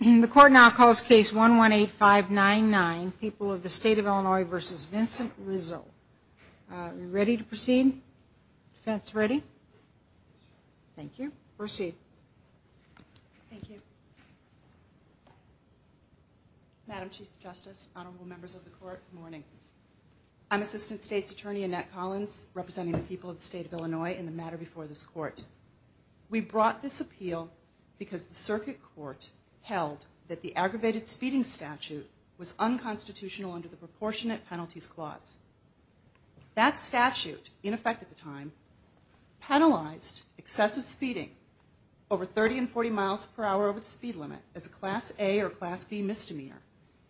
And the court now calls case one one eight five nine nine people of the state of Illinois versus Vincent Rizzo Ready to proceed That's ready Thank you proceed Madam Chief Justice honorable members of the court morning I'm assistant state's attorney Annette Collins representing the people of the state of Illinois in the matter before this court We brought this appeal because the circuit court held that the aggravated speeding statute was unconstitutional under the proportionate penalties clause That statute in effect at the time penalized excessive speeding over 30 and 40 miles per hour over the speed limit as a class a or class B misdemeanor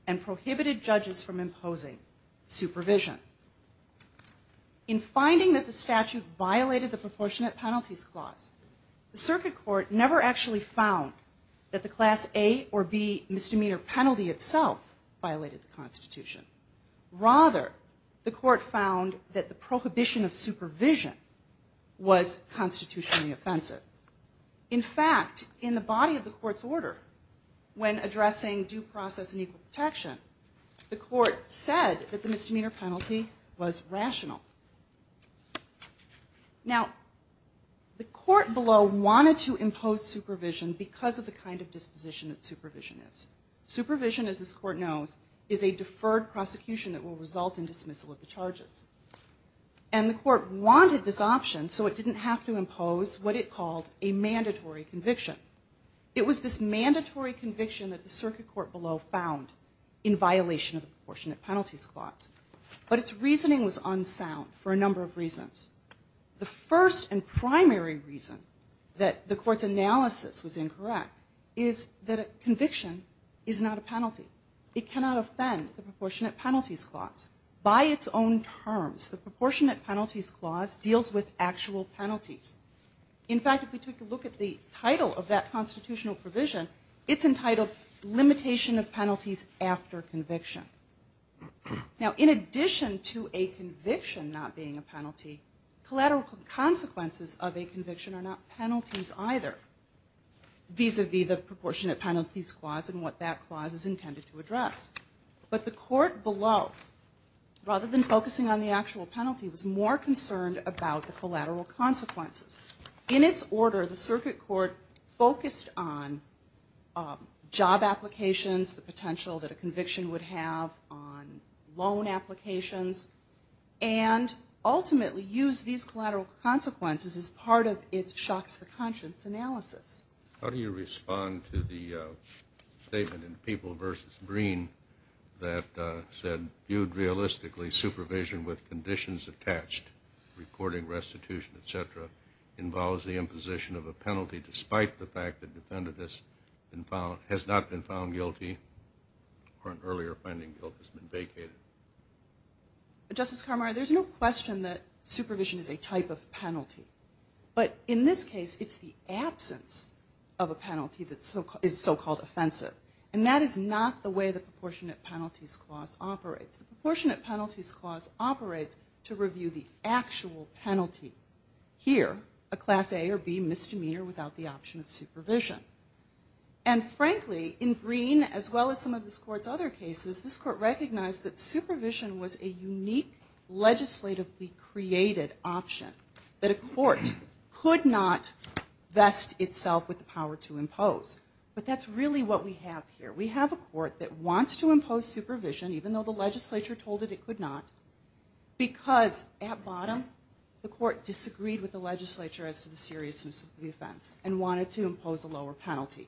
and prohibited judges from imposing supervision In finding that the statute violated the proportionate penalties clause The circuit court never actually found that the class a or B misdemeanor penalty itself violated the Constitution Rather the court found that the prohibition of supervision Was constitutionally offensive in fact in the body of the court's order When addressing due process and equal protection the court said that the misdemeanor penalty was rational Now The court below wanted to impose supervision because of the kind of disposition that supervision is supervision as this court knows is a deferred prosecution that will result in dismissal of the charges and The court wanted this option so it didn't have to impose what it called a mandatory conviction It was this mandatory conviction that the circuit court below found in violation of the proportionate penalties clause But its reasoning was unsound for a number of reasons The first and primary reason that the court's analysis was incorrect is that a conviction is not a penalty It cannot offend the proportionate penalties clause by its own terms the proportionate penalties clause deals with actual penalties In fact if we took a look at the title of that constitutional provision, it's entitled limitation of penalties after conviction Now in addition to a conviction not being a penalty collateral consequences of a conviction are not penalties either These would be the proportionate penalties clause and what that clause is intended to address but the court below Rather than focusing on the actual penalty was more concerned about the collateral consequences in its order the circuit court focused on job applications the potential that a conviction would have on loan applications and Ultimately use these collateral consequences as part of its shocks the conscience analysis. How do you respond to the statement in people versus green That said you'd realistically supervision with conditions attached reporting restitution etc Involves the imposition of a penalty despite the fact that defendant has been found has not been found guilty Or an earlier finding guilt has been vacated Justice Carmara, there's no question that supervision is a type of penalty But in this case, it's the absence of a penalty Is so-called offensive and that is not the way the proportionate penalties clause operates the proportionate penalties clause operates to review the actual penalty here a class A or B misdemeanor without the option of supervision and Frankly in green as well as some of this courts other cases this court recognized that supervision was a unique Legislatively created option that a court could not Vest itself with the power to impose, but that's really what we have here We have a court that wants to impose supervision even though the legislature told it it could not because at bottom the court disagreed with the legislature as to the seriousness of the offense and wanted to impose a lower penalty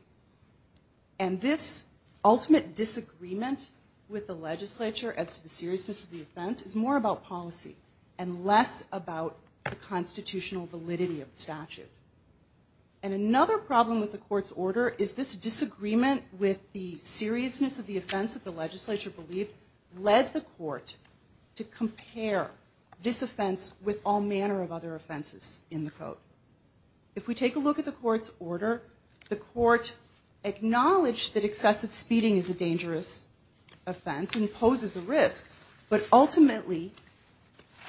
and this ultimate disagreement with the legislature as to the seriousness of the offense is more about policy and less about the And another problem with the court's order is this disagreement with the seriousness of the offense that the legislature believed Led the court to compare this offense with all manner of other offenses in the code If we take a look at the court's order the court Acknowledged that excessive speeding is a dangerous offense and poses a risk, but ultimately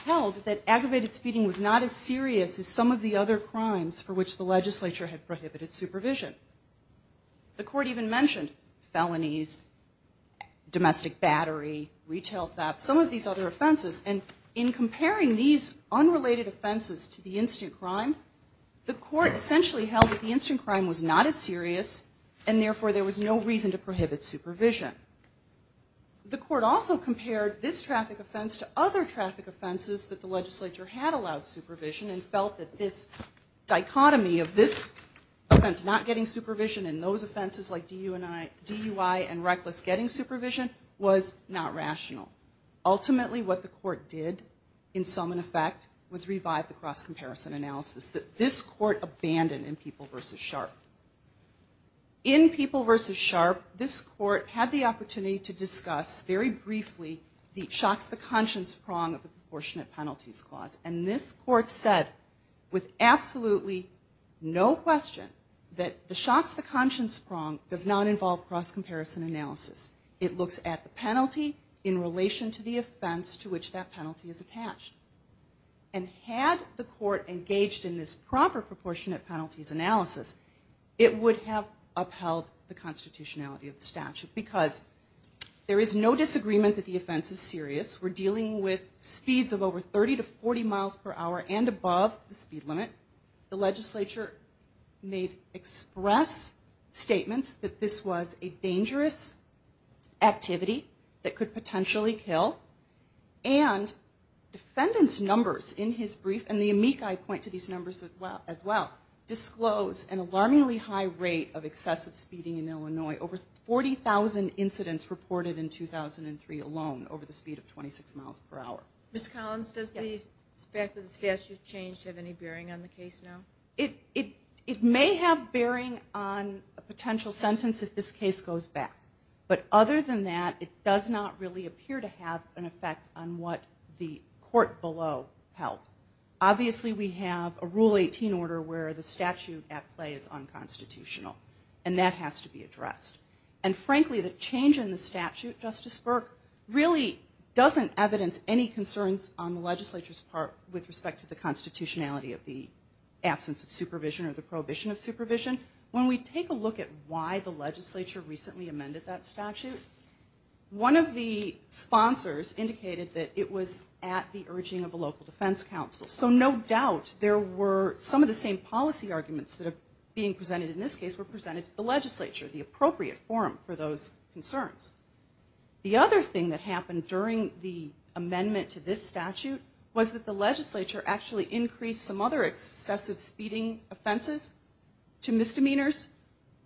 Held that aggravated speeding was not as serious as some of the other crimes for which the legislature had prohibited supervision the court even mentioned felonies Domestic battery retail theft some of these other offenses and in comparing these unrelated offenses to the instant crime The court essentially held that the instant crime was not as serious and therefore there was no reason to prohibit supervision The court also compared this traffic offense to other traffic offenses that the legislature had allowed supervision and felt that this dichotomy of this Offense not getting supervision in those offenses like DUI and reckless getting supervision was not rational Ultimately what the court did in some in effect was revive the cross comparison analysis that this court abandoned in people versus sharp In people versus sharp this court had the opportunity to discuss very briefly The shocks the conscience prong of the proportionate penalties clause and this court said with absolutely No question that the shocks the conscience prong does not involve cross comparison analysis it looks at the penalty in relation to the offense to which that penalty is attached and Had the court engaged in this proper proportionate penalties analysis it would have upheld the constitutionality of the statute because There is no disagreement that the offense is serious We're dealing with speeds of over 30 to 40 miles per hour and above the speed limit the legislature made express Statements that this was a dangerous activity that could potentially kill and Defendants numbers in his brief and the amici point to these numbers as well as well Disclose an alarmingly high rate of excessive speeding in Illinois over 40,000 incidents reported in 2003 alone over the speed of 26 miles per hour Miss Collins does these back of the statute change have any bearing on the case now it it it may have bearing on a potential sentence if this case goes back But other than that it does not really appear to have an effect on what the court below help obviously we have a rule 18 order where the statute at play is unconstitutional and that has to be addressed and Frankly the change in the statute justice Burke really doesn't evidence any concerns on the legislature's part with respect to the constitutionality of the Absence of supervision or the prohibition of supervision when we take a look at why the legislature recently amended that statute one of the Sponsors indicated that it was at the urging of a local Defense Council So no doubt there were some of the same policy arguments that are being presented in this case were presented to the legislature the appropriate forum for those concerns the other thing that happened during the Amendment to this statute was that the legislature actually increased some other excessive speeding offenses to misdemeanors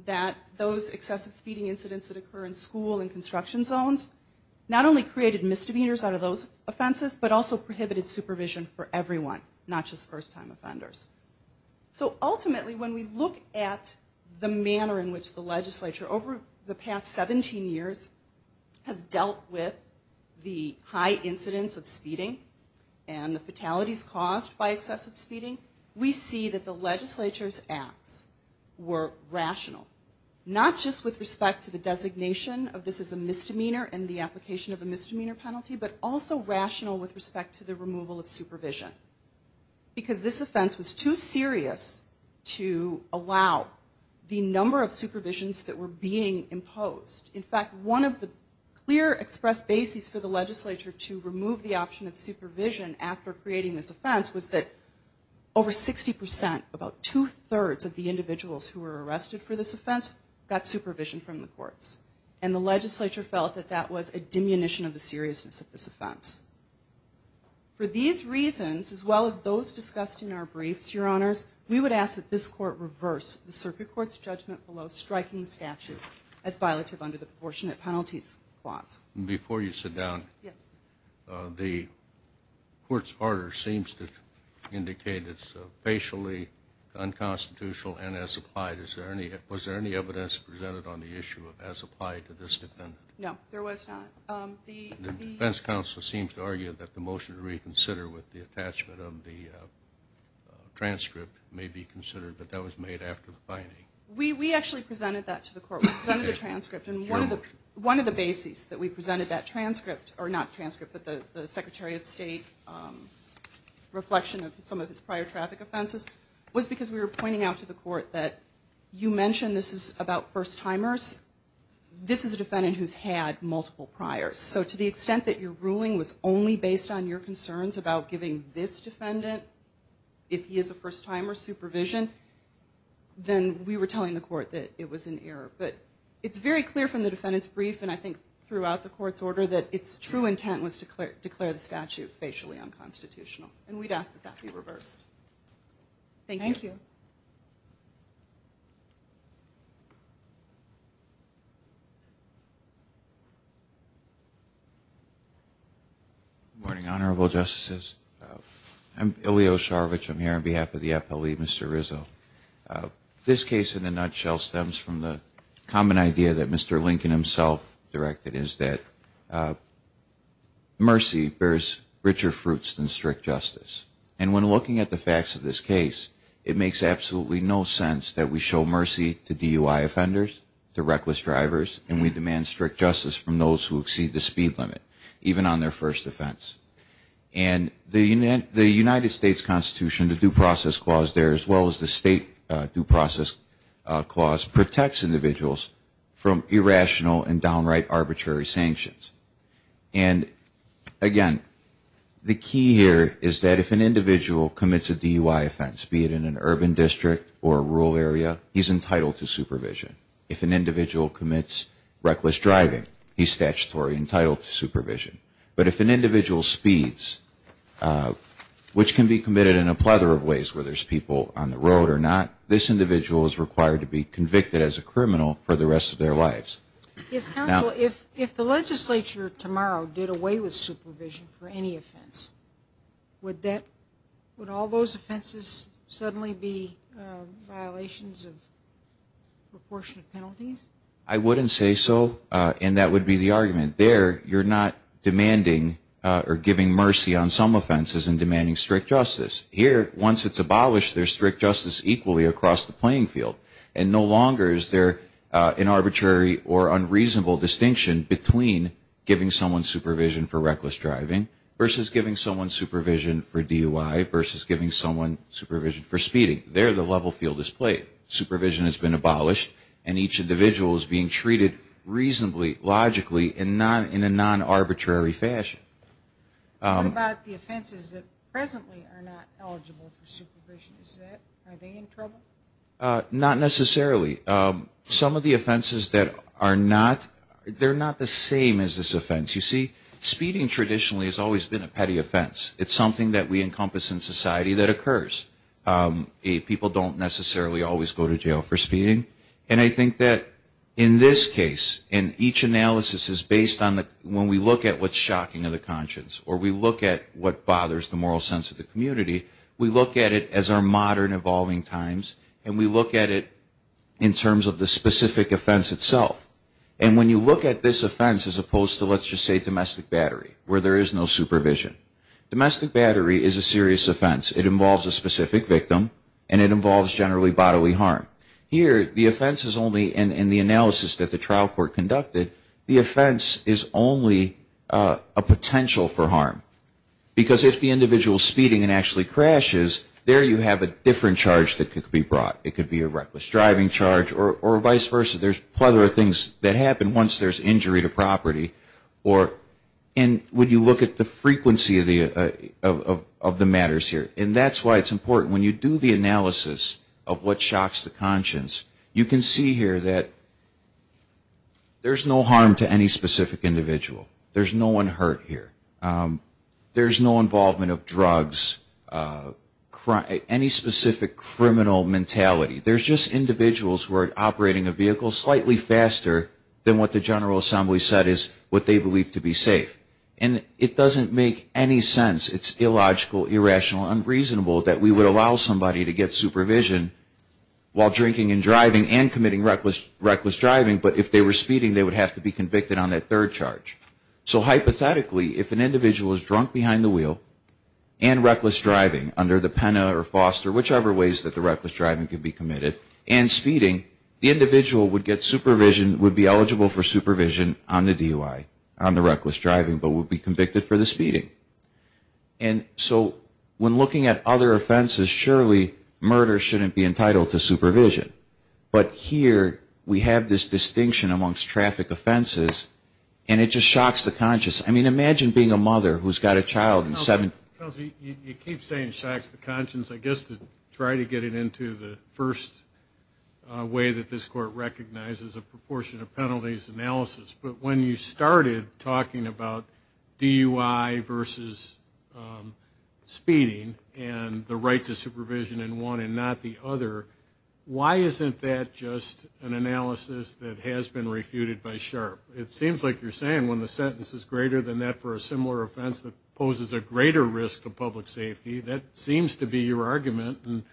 That those excessive speeding incidents that occur in school and construction zones Not only created misdemeanors out of those offenses, but also prohibited supervision for everyone not just first-time offenders So ultimately when we look at the manner in which the legislature over the past 17 years Has dealt with the high incidence of speeding and the fatalities caused by excessive speeding We see that the legislature's acts were rational Not just with respect to the designation of this is a misdemeanor and the application of a misdemeanor penalty But also rational with respect to the removal of supervision Because this offense was too serious To allow The number of supervisions that were being imposed in fact one of the clear expressed basis for the legislature to remove the option of supervision after creating this offense was that over sixty percent about two-thirds of the individuals who were arrested for this offense got supervision from the courts and The legislature felt that that was a diminution of the seriousness of this offense For these reasons as well as those discussed in our briefs your honors We would ask that this court reverse the circuit courts judgment below striking statute as violative under the proportionate penalties clause before you sit down the courts order seems to Indicate it's facially Unconstitutional and as applied is there any was there any evidence presented on the issue of as applied to this defendant? No, there was not the defense counsel seems to argue that the motion to reconsider with the attachment of the Transcript may be considered, but that was made after the finding we we actually presented that to the court We've done the transcript and one of the one of the bases that we presented that transcript or not transcript But the Secretary of State Reflection of some of his prior traffic offenses was because we were pointing out to the court that you mentioned. This is about first-timers This is a defendant who's had multiple priors So to the extent that your ruling was only based on your concerns about giving this defendant if he is a first-timer supervision Then we were telling the court that it was an error But it's very clear from the defendants brief And I think throughout the court's order that its true intent was to declare declare the statute facially unconstitutional And we'd ask that that be reversed Thank you You Morning honorable justices I'm ilio sharvich. I'm here on behalf of the FLE. Mr. Rizzo This case in a nutshell stems from the common idea that mr. Lincoln himself directed is that Mercy bears richer fruits than strict justice and when looking at the facts of this case It makes absolutely no sense that we show mercy to DUI offenders to reckless drivers and we demand strict justice from those who exceed the speed limit even on their first offense and The unit the United States Constitution the due process clause there as well as the state due process clause protects individuals from irrational and downright arbitrary sanctions and Again The key here is that if an individual commits a DUI offense be it in an urban district or a rural area He's entitled to supervision if an individual commits reckless driving He's statutory entitled to supervision, but if an individual speeds Which can be committed in a plethora of ways where there's people on the road or not This individual is required to be convicted as a criminal for the rest of their lives If if the legislature tomorrow did away with supervision for any offense Would that would all those offenses suddenly be? violations of Proportionate penalties I wouldn't say so and that would be the argument there You're not demanding or giving mercy on some offenses and demanding strict justice here once It's abolished their strict justice equally across the playing field and no longer is there an arbitrary or unreasonable distinction between Giving someone supervision for reckless driving versus giving someone supervision for DUI versus giving someone Supervision for speeding there the level field is played supervision has been abolished and each individual is being treated reasonably logically and not in a non arbitrary fashion About the offenses that presently are not eligible for supervision is that are they in trouble? Not necessarily Some of the offenses that are not they're not the same as this offense you see Speeding traditionally has always been a petty offense. It's something that we encompass in society that occurs if people don't necessarily always go to jail for speeding and I think that in this case in each Analysis is based on that when we look at what's shocking of the conscience or we look at what bothers the moral sense of the Community we look at it as our modern evolving times and we look at it in terms of the specific offense itself And when you look at this offense as opposed to let's just say domestic battery where there is no supervision Domestic battery is a serious offense it involves a specific victim and it involves generally bodily harm Here the offense is only in the analysis that the trial court conducted the offense is only a potential for harm Because if the individual speeding and actually crashes there you have a different charge that could be brought it could be a reckless driving charge or vice versa, there's plethora of things that happen once there's injury to property or and would you look at the frequency of the Matters here, and that's why it's important when you do the analysis of what shocks the conscience you can see here that There's no harm to any specific individual. There's no one hurt here. There's no involvement of drugs Cry any specific criminal mentality There's just individuals who are operating a vehicle slightly faster than what the General Assembly said is what they believe to be safe And it doesn't make any sense. It's illogical irrational unreasonable that we would allow somebody to get supervision While drinking and driving and committing reckless reckless driving, but if they were speeding they would have to be convicted on that third charge so hypothetically if an individual is drunk behind the wheel and reckless driving under the Pena or Foster whichever ways that the reckless driving could be committed and The individual would get supervision would be eligible for supervision on the DUI on the reckless driving but would be convicted for the speeding and So when looking at other offenses surely murder shouldn't be entitled to supervision But here we have this distinction amongst traffic offenses, and it just shocks the conscious I mean imagine being a mother who's got a child and seven Conscience I guess to try to get it into the first Way that this court recognizes a proportion of penalties analysis, but when you started talking about DUI versus Speeding and the right to supervision in one and not the other Why isn't that just an analysis that has been refuted by sharp? It seems like you're saying when the sentence is greater than that for a similar offense that poses a greater risk to public safety That seems to be your argument, and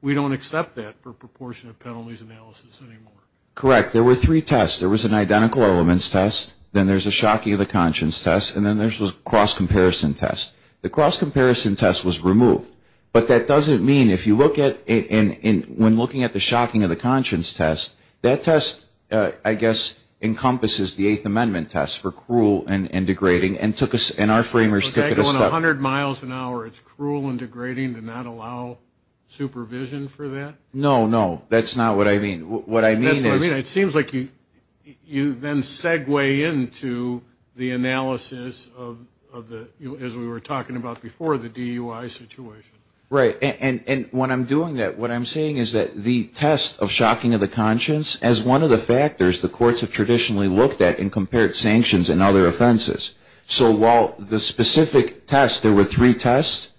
we don't accept that for proportion of penalties analysis anymore correct there were three tests There was an identical elements test, then there's a shocking of the conscience test And then there's was cross comparison test the cross comparison test was removed But that doesn't mean if you look at in in when looking at the shocking of the conscience test that test I guess Encompasses the Eighth Amendment tests for cruel and degrading and took us in our framers 100 miles an hour, it's cruel and degrading to not allow Supervision for that no no that's not what I mean what I mean it seems like you You then segue into the analysis of the as we were talking about before the DUI situation Right and and when I'm doing that what I'm saying is that the test of shocking of the conscience as one of the factors The courts have traditionally looked at and compared sanctions and other offenses So while the specific test there were three tests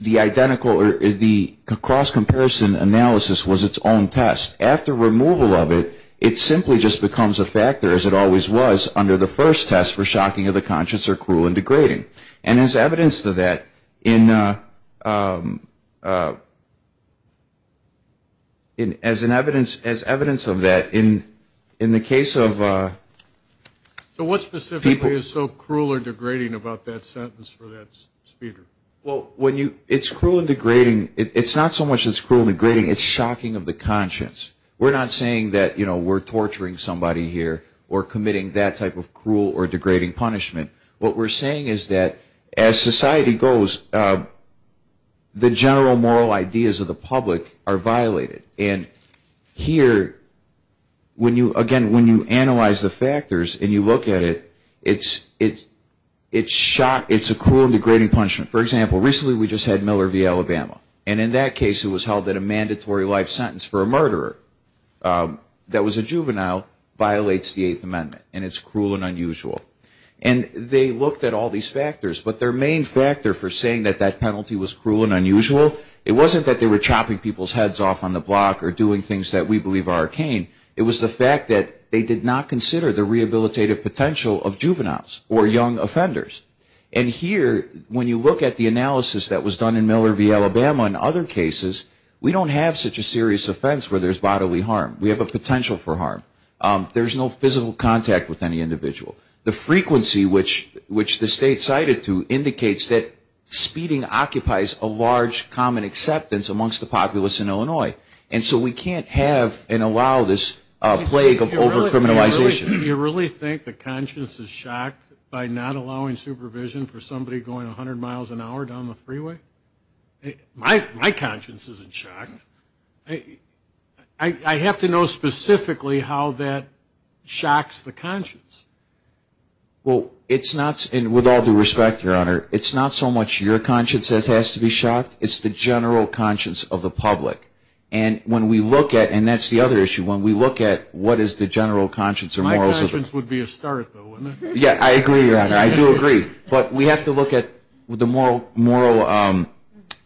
The identical or the cross comparison analysis was its own test after removal of it It simply just becomes a factor as it always was under the first test for shocking of the conscience or cruel and degrading and as evidence to that in In as an evidence as evidence of that in in the case of So what specifically is so cruel or degrading about that sentence for that speaker Well when you it's cruel and degrading it's not so much as cruel degrading. It's shocking of the conscience We're not saying that you know we're torturing somebody here or committing that type of cruel or degrading punishment What we're saying is that as society goes? the general moral ideas of the public are violated and here When you again when you analyze the factors and you look at it, it's it's it's shock It's a cruel degrading punishment for example recently We just had Miller v, Alabama and in that case it was held at a mandatory life sentence for a murderer that was a juvenile violates the Eighth Amendment, and it's cruel and unusual and They looked at all these factors, but their main factor for saying that that penalty was cruel and unusual It wasn't that they were chopping people's heads off on the block or doing things that we believe are arcane it was the fact that they did not consider the rehabilitative potential of juveniles or young offenders and Here when you look at the analysis that was done in Miller v, Alabama in other cases We don't have such a serious offense where there's bodily harm. We have a potential for harm There's no physical contact with any individual the frequency which which the state cited to indicates that Speeding occupies a large common acceptance amongst the populace in, Illinois And so we can't have and allow this plague of Overcriminalization you really think the conscience is shocked by not allowing supervision for somebody going a hundred miles an hour down the freeway my conscience isn't shocked I Have to know specifically how that shocks the conscience Well, it's not and with all due respect your honor, it's not so much your conscience that has to be shocked It's the general conscience of the public and when we look at and that's the other issue when we look at What is the general conscience or morals? Yeah, I agree I do agree, but we have to look at with the moral moral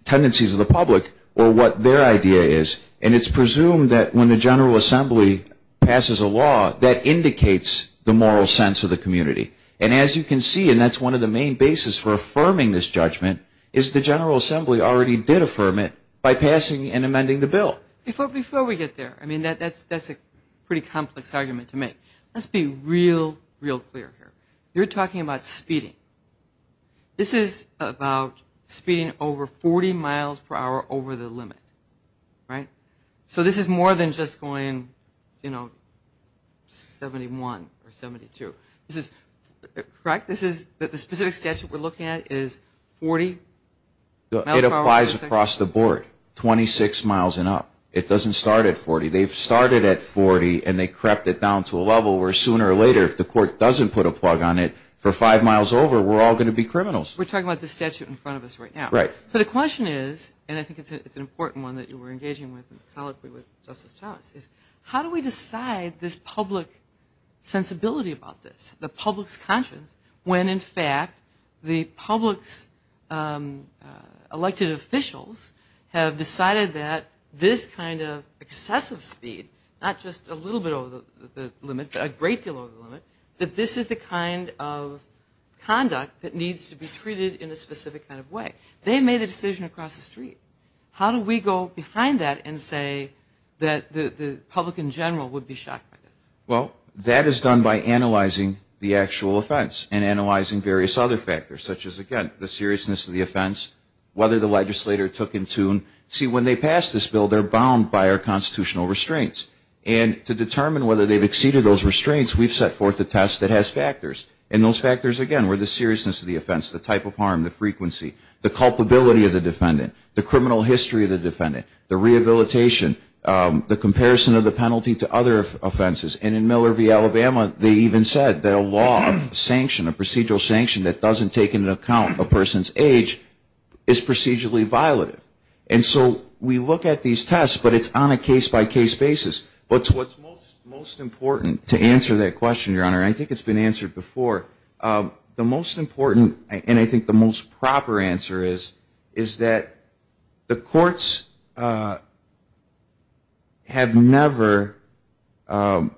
Tendencies of the public or what their idea is and it's presumed that when the General Assembly Passes a law that indicates the moral sense of the community and as you can see and that's one of the main basis for Affirming this judgment is the General Assembly already did affirm it by passing and amending the bill before before we get there I mean that that's that's a pretty complex argument to make let's be real real clear here. You're talking about speeding This is about speeding over 40 miles per hour over the limit Right so this is more than just going you know 71 or 72 this is correct. This is that the specific statute. We're looking at is 40 Though it applies across the board 26 miles and up it doesn't start at 40 They've started at 40 and they crept it down to a level where sooner or later if the court doesn't put a plug on it For five miles over we're all going to be criminals. We're talking about the statute in front of us right now, right? So the question is and I think it's an important one that you were engaging with How do we decide this public Sensibility about this the public's conscience when in fact the public's Elected officials have decided that this kind of excessive speed not just a little bit over the limit a great deal of the limit that this is the kind of Conduct that needs to be treated in a specific kind of way they made a decision across the street How do we go behind that and say that the public in general would be shocked? Well that is done by analyzing the actual offense and analyzing various other factors such as again the seriousness of the offense Whether the legislator took in tune see when they pass this bill They're bound by our constitutional restraints and to determine whether they've exceeded those restraints We've set forth the test that has factors and those factors again We're the seriousness of the offense the type of harm the frequency the culpability of the defendant the criminal history of the defendant the rehabilitation The comparison of the penalty to other offenses and in Miller v Alabama they even said that a law of sanction a procedural sanction that doesn't take into account a person's age is Procedurally violative and so we look at these tests, but it's on a case-by-case basis What's what's most important to answer that question your honor? I think it's been answered before The most important and I think the most proper answer is is that the courts? Have never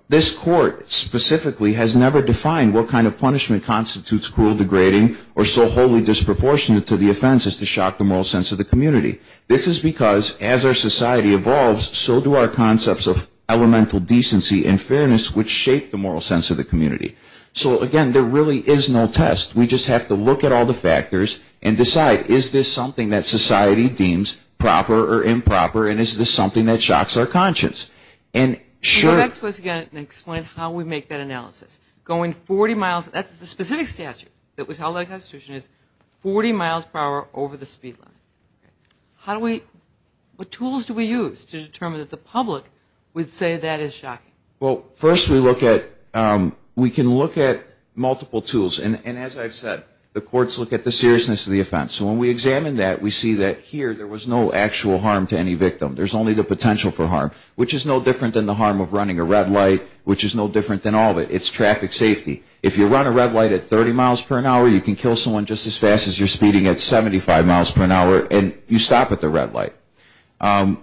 This court specifically has never defined What kind of punishment constitutes cruel degrading or so wholly disproportionate to the offense is to shock the moral sense of the community This is because as our society evolves so do our concepts of elemental decency and fairness which shape the moral sense of the community So again, there really is no test We just have to look at all the factors and decide is this something that society deems? proper or improper and is this something that shocks our conscience and Sure, that's what's gonna explain how we make that analysis going 40 miles That's the specific statute that was held a constitution is 40 miles per hour over the speed line How do we what tools do we use to determine that the public would say that is shocking well first we look at? We can look at multiple tools and as I've said the courts look at the seriousness of the offense So when we examine that we see that here there was no actual harm to any victim There's only the potential for harm which is no different than the harm of running a red light Which is no different than all of it It's traffic safety if you run a red light at 30 miles per an hour you can kill someone just as fast as you're speeding At 75 miles per an hour, and you stop at the red light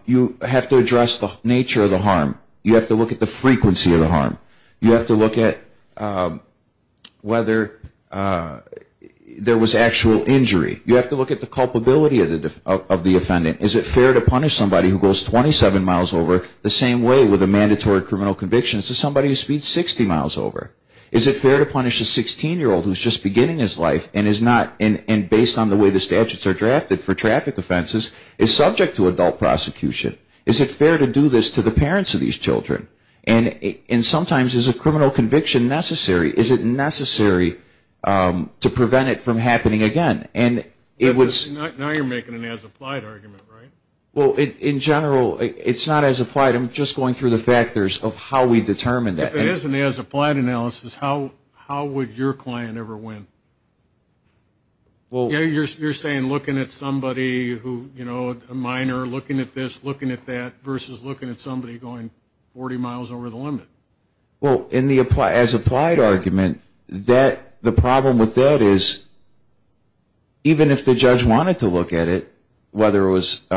You have to address the nature of the harm you have to look at the frequency of the harm you have to look at whether There was actual injury you have to look at the culpability of the defendant Is it fair to punish somebody who goes 27 miles over the same way with a mandatory criminal conviction? So somebody who speeds 60 miles over is it fair to punish a 16 year old who's just beginning his life And is not in and based on the way the statutes are drafted for traffic offenses is subject to adult prosecution Is it fair to do this to the parents of these children and in sometimes is a criminal conviction necessary is it necessary? To prevent it from happening again, and it was Well in general it's not as applied I'm just going through the factors of how we determine that it isn't as applied analysis. How how would your client ever win? Well, you're saying looking at somebody who you know a minor looking at this looking at that versus looking at somebody going 40 miles over the limit well in the apply as applied argument that the problem with that is Even if the judge wanted to look at it Whether it was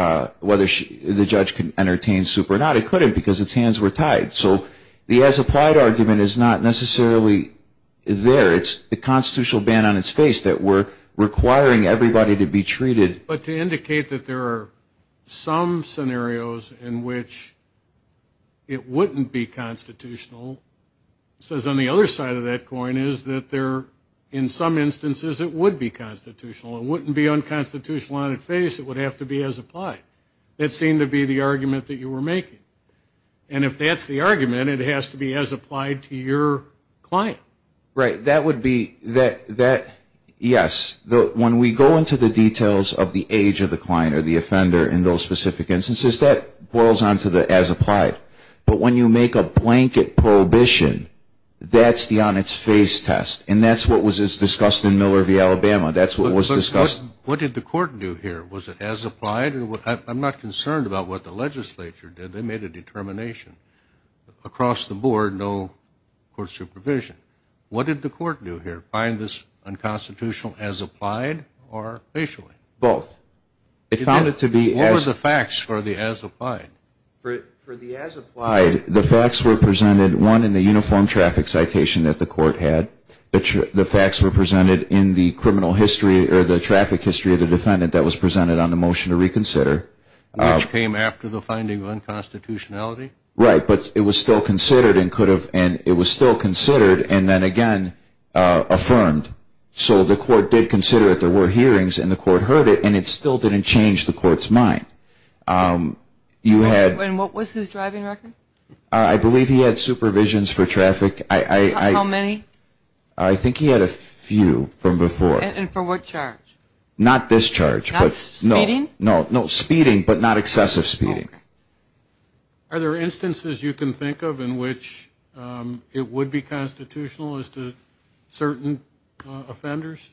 whether she the judge can entertain super not it couldn't because its hands were tied so the as applied argument is not necessarily Is there it's the constitutional ban on its face that we're requiring everybody to be treated, but to indicate that there are some scenarios in which It wouldn't be constitutional Says on the other side of that coin is that there in some instances it would be constitutional It wouldn't be unconstitutional on its face it would have to be as applied It seemed to be the argument that you were making and if that's the argument it has to be as applied to your Client right that would be that that Yes Though when we go into the details of the age of the client or the offender in those specific instances that boils on to the as Applied, but when you make a blanket prohibition That's the on its face test, and that's what was discussed in Miller v. Alabama. That's what was discussed What did the court do here was it as applied and what I'm not concerned about what the legislature did they made a determination Across the board no Court supervision, what did the court do here find this? unconstitutional as applied or Facially both it found it to be as the facts for the as applied The facts were presented one in the uniform traffic citation that the court had But the facts were presented in the criminal history or the traffic history of the defendant that was presented on the motion to reconsider Came after the finding of unconstitutionality right, but it was still considered and could have and it was still considered and then again Affirmed so the court did consider it there were hearings and the court heard it, and it still didn't change the court's mind You had and what was his driving record? I believe he had supervisions for traffic. I Many I think he had a few from before and for what charge not this charge No, no, no speeding but not excessive speeding Are there instances you can think of in which? It would be constitutional as to certain offenders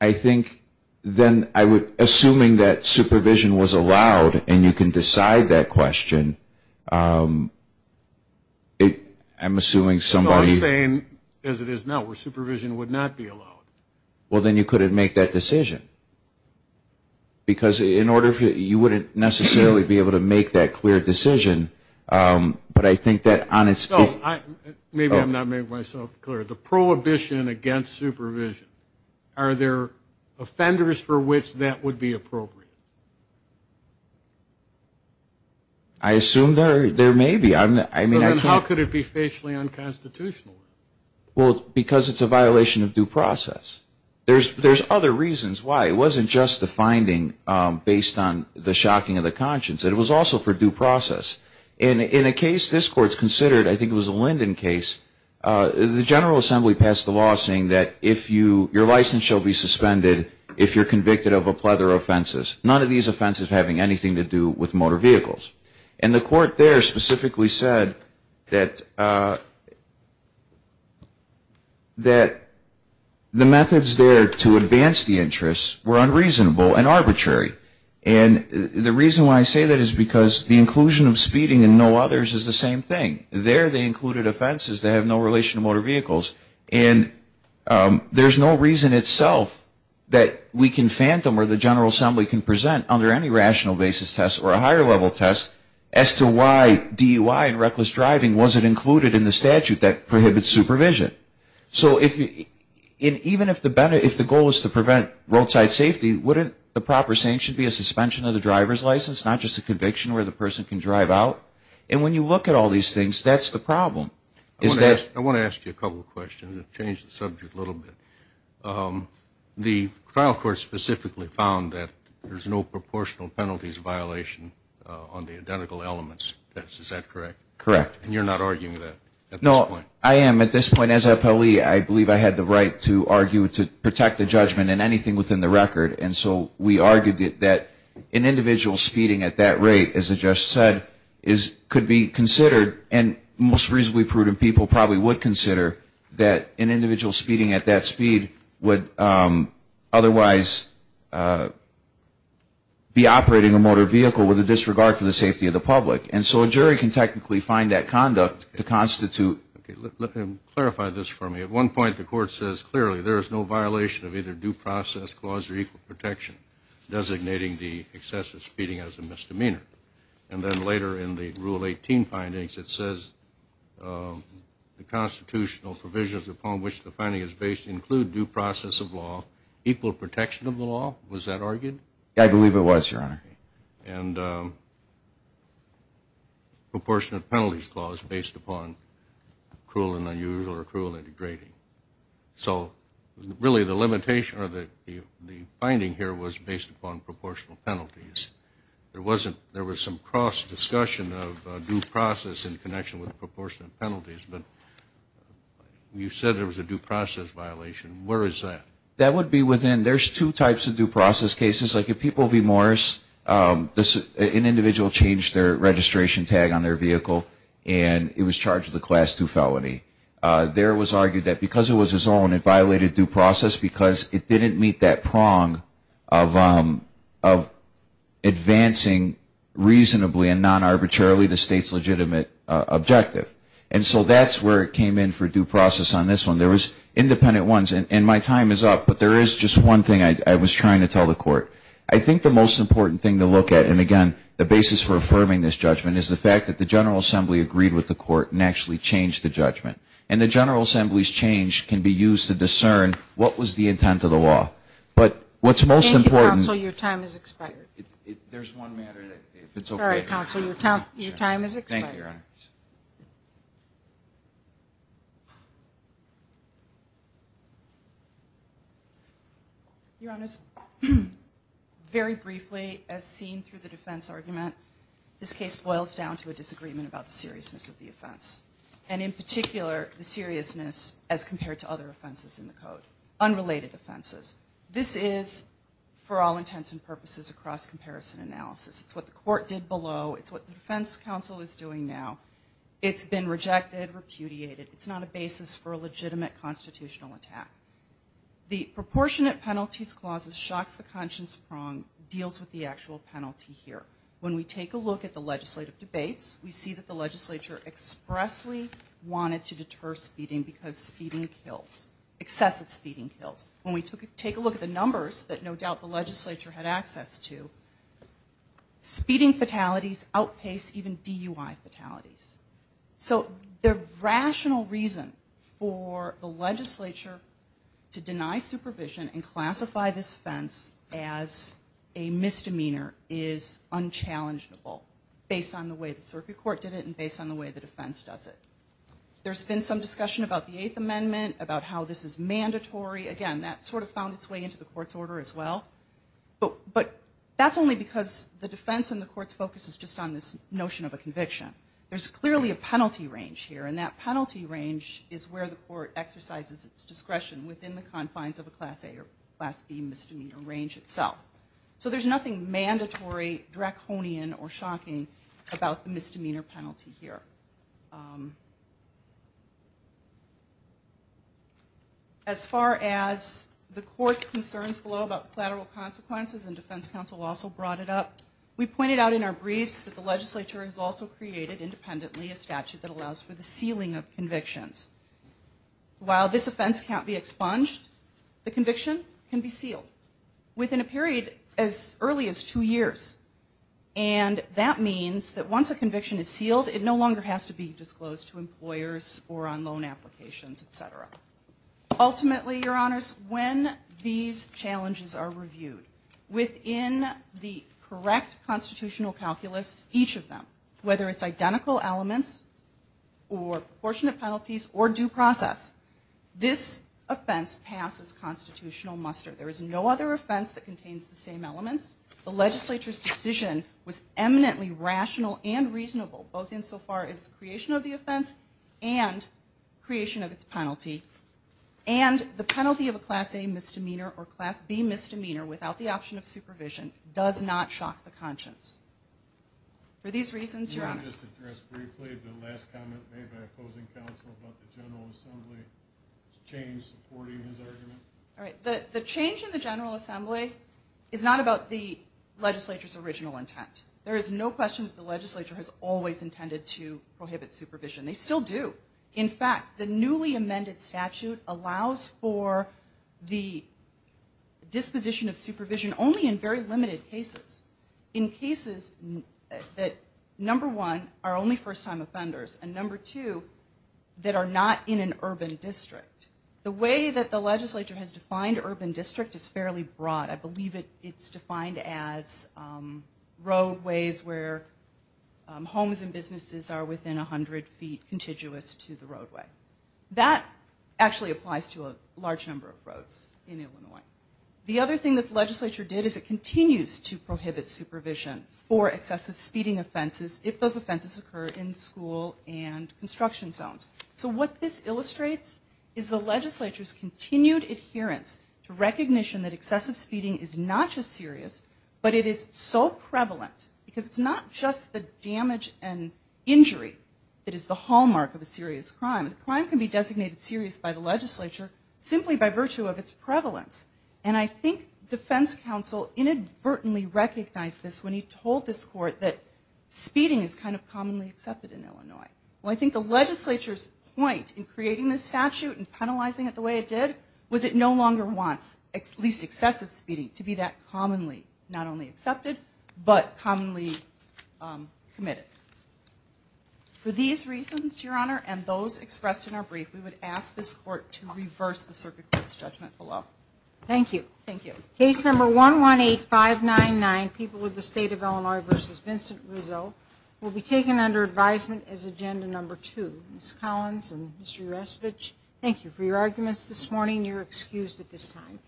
I Think then I would assuming that supervision was allowed and you can decide that question It I'm assuming somebody saying as it is now where supervision would not be allowed well, then you couldn't make that decision Because in order for you wouldn't necessarily be able to make that clear decision But I think that on its own. I maybe I'm not making myself clear the prohibition against supervision are there offenders for which that would be appropriate I Assume there there may be I'm I mean how could it be facially unconstitutional? Well because it's a violation of due process There's there's other reasons why it wasn't just the finding based on the shocking of the conscience It was also for due process and in a case this court's considered. I think it was a Linden case the General Assembly passed the law saying that if you your license shall be suspended if you're convicted of a plethora of offenses none of these offenses having anything to do with motor vehicles and the court there specifically said that that The methods there to advance the interests were unreasonable and arbitrary and The reason why I say that is because the inclusion of speeding and no others is the same thing there they included offenses that have no relation to motor vehicles and There's no reason itself That we can phantom or the General Assembly can present under any rational basis test or a higher level test as to why? DUI and reckless driving was it included in the statute that prohibits supervision So if you in even if the benefit if the goal is to prevent roadside safety Wouldn't the proper saying should be a suspension of the driver's license not just a conviction where the person can drive out and when you look At all these things that's the problem is that I want to ask you a couple of questions. I've changed the subject a little bit The trial court specifically found that there's no proportional penalties violation on the identical elements Correct and you're not arguing that no I am at this point as a Polly I believe I had the right to argue to protect the judgment and anything within the record and so we argued it that an individual speeding at that rate as I just said is Could be considered and most reasonably prudent people probably would consider that an individual speeding at that speed would otherwise Be Operating a motor vehicle with a disregard for the safety of the public and so a jury can technically find that conduct to constitute Clarify this for me at one point the court says clearly there is no violation of either due process clause or equal protection designating the excessive speeding as a misdemeanor and then later in the rule 18 findings it says The constitutional provisions upon which the finding is based include due process of law Equal protection of the law was that argued. I believe it was your honor and Proportionate penalties clause based upon cruel and unusual or cruel integrating So really the limitation or that the finding here was based upon proportional penalties There wasn't there was some cross discussion of due process in connection with proportionate penalties, but You said there was a due process violation Where is that that would be within there's two types of due process cases like if people be Morris This an individual changed their registration tag on their vehicle, and it was charged the class to felony there was argued that because it was his own it violated due process because it didn't meet that prong of Advancing Reasonably and non-arbitrarily the state's legitimate Objective and so that's where it came in for due process on this one There was independent ones and my time is up, but there is just one thing. I was trying to tell the court I think the most important thing to look at and again the basis for affirming this judgment is the fact that the General Assembly Agreed with the court and actually changed the judgment and the General Assembly's change can be used to discern What was the intent of the law, but what's most important so your time is expired if there's one matter If it's all right counsel your time your time is Your honor's Very briefly as seen through the defense argument This case boils down to a disagreement about the seriousness of the offense and in particular The seriousness as compared to other offenses in the code unrelated offenses. This is For all intents and purposes across comparison analysis. It's what the court did below. It's what the defense counsel is doing now It's been rejected repudiated. It's not a basis for a legitimate constitutional attack The proportionate penalties clauses shocks the conscience prong deals with the actual penalty here when we take a look at the legislative debates We see that the legislature Expressly wanted to deter speeding because speeding kills Excessive speeding kills when we took it take a look at the numbers that no doubt the legislature had access to Speeding fatalities outpace even DUI fatalities so their rational reason for the legislature to deny supervision and classify this offense as a misdemeanor is Unchallengeable based on the way the circuit court did it and based on the way the defense does it There's been some discussion about the Eighth Amendment about how this is mandatory again that sort of found its way into the court's order as well But but that's only because the defense and the court's focus is just on this notion of a conviction There's clearly a penalty range here and that penalty range is where the court exercises its discretion within the confines of a class a or class B misdemeanor range itself So there's nothing mandatory draconian or shocking about the misdemeanor penalty here As far as The court's concerns below about collateral consequences and defense counsel also brought it up We pointed out in our briefs that the legislature has also created independently a statute that allows for the sealing of convictions While this offense can't be expunged the conviction can be sealed within a period as early as two years and That means that once a conviction is sealed it no longer has to be disclosed to employers or on loan applications, etc Ultimately your honors when these challenges are reviewed within the correct constitutional calculus each of them whether it's identical elements or Proportionate penalties or due process this offense passes constitutional muster there is no other offense that contains the same elements the legislature's decision was eminently rational and reasonable both insofar as creation of the offense and creation of its penalty and The penalty of a class a misdemeanor or class B misdemeanor without the option of supervision does not shock the conscience for these reasons Counsel about the General Assembly Change supporting his argument all right the the change in the General Assembly is not about the Legislature's original intent there is no question that the legislature has always intended to prohibit supervision they still do in fact the newly amended statute allows for the disposition of supervision only in very limited cases in cases That number one are only first-time offenders and number two That are not in an urban district the way that the legislature has defined urban district is fairly broad. I believe it It's defined as roadways where Homes and businesses are within a hundred feet contiguous to the roadway that Actually applies to a large number of roads in Illinois the other thing that the legislature did is it continues to prohibit? Supervision for excessive speeding offenses if those offenses occur in school and construction zones So what this illustrates is the legislature's continued adherence to recognition that excessive speeding is not just serious but it is so prevalent because it's not just the damage and Injury it is the hallmark of a serious crime the crime can be designated serious by the legislature Simply by virtue of its prevalence, and I think defense counsel inadvertently recognized this when he told this court that Speeding is kind of commonly accepted in Illinois Well, I think the legislature's point in creating this statute and penalizing it the way It did was it no longer wants at least excessive speeding to be that commonly not only accepted, but commonly committed For these reasons your honor and those expressed in our brief We would ask this court to reverse the circuit its judgment below. Thank you Thank you case number one one eight five nine nine people with the state of Illinois versus Vincent Rizzo Will be taken under advisement as agenda number two Miss Collins and Mr.. Rasevich. Thank you for your arguments this morning You're excused at this time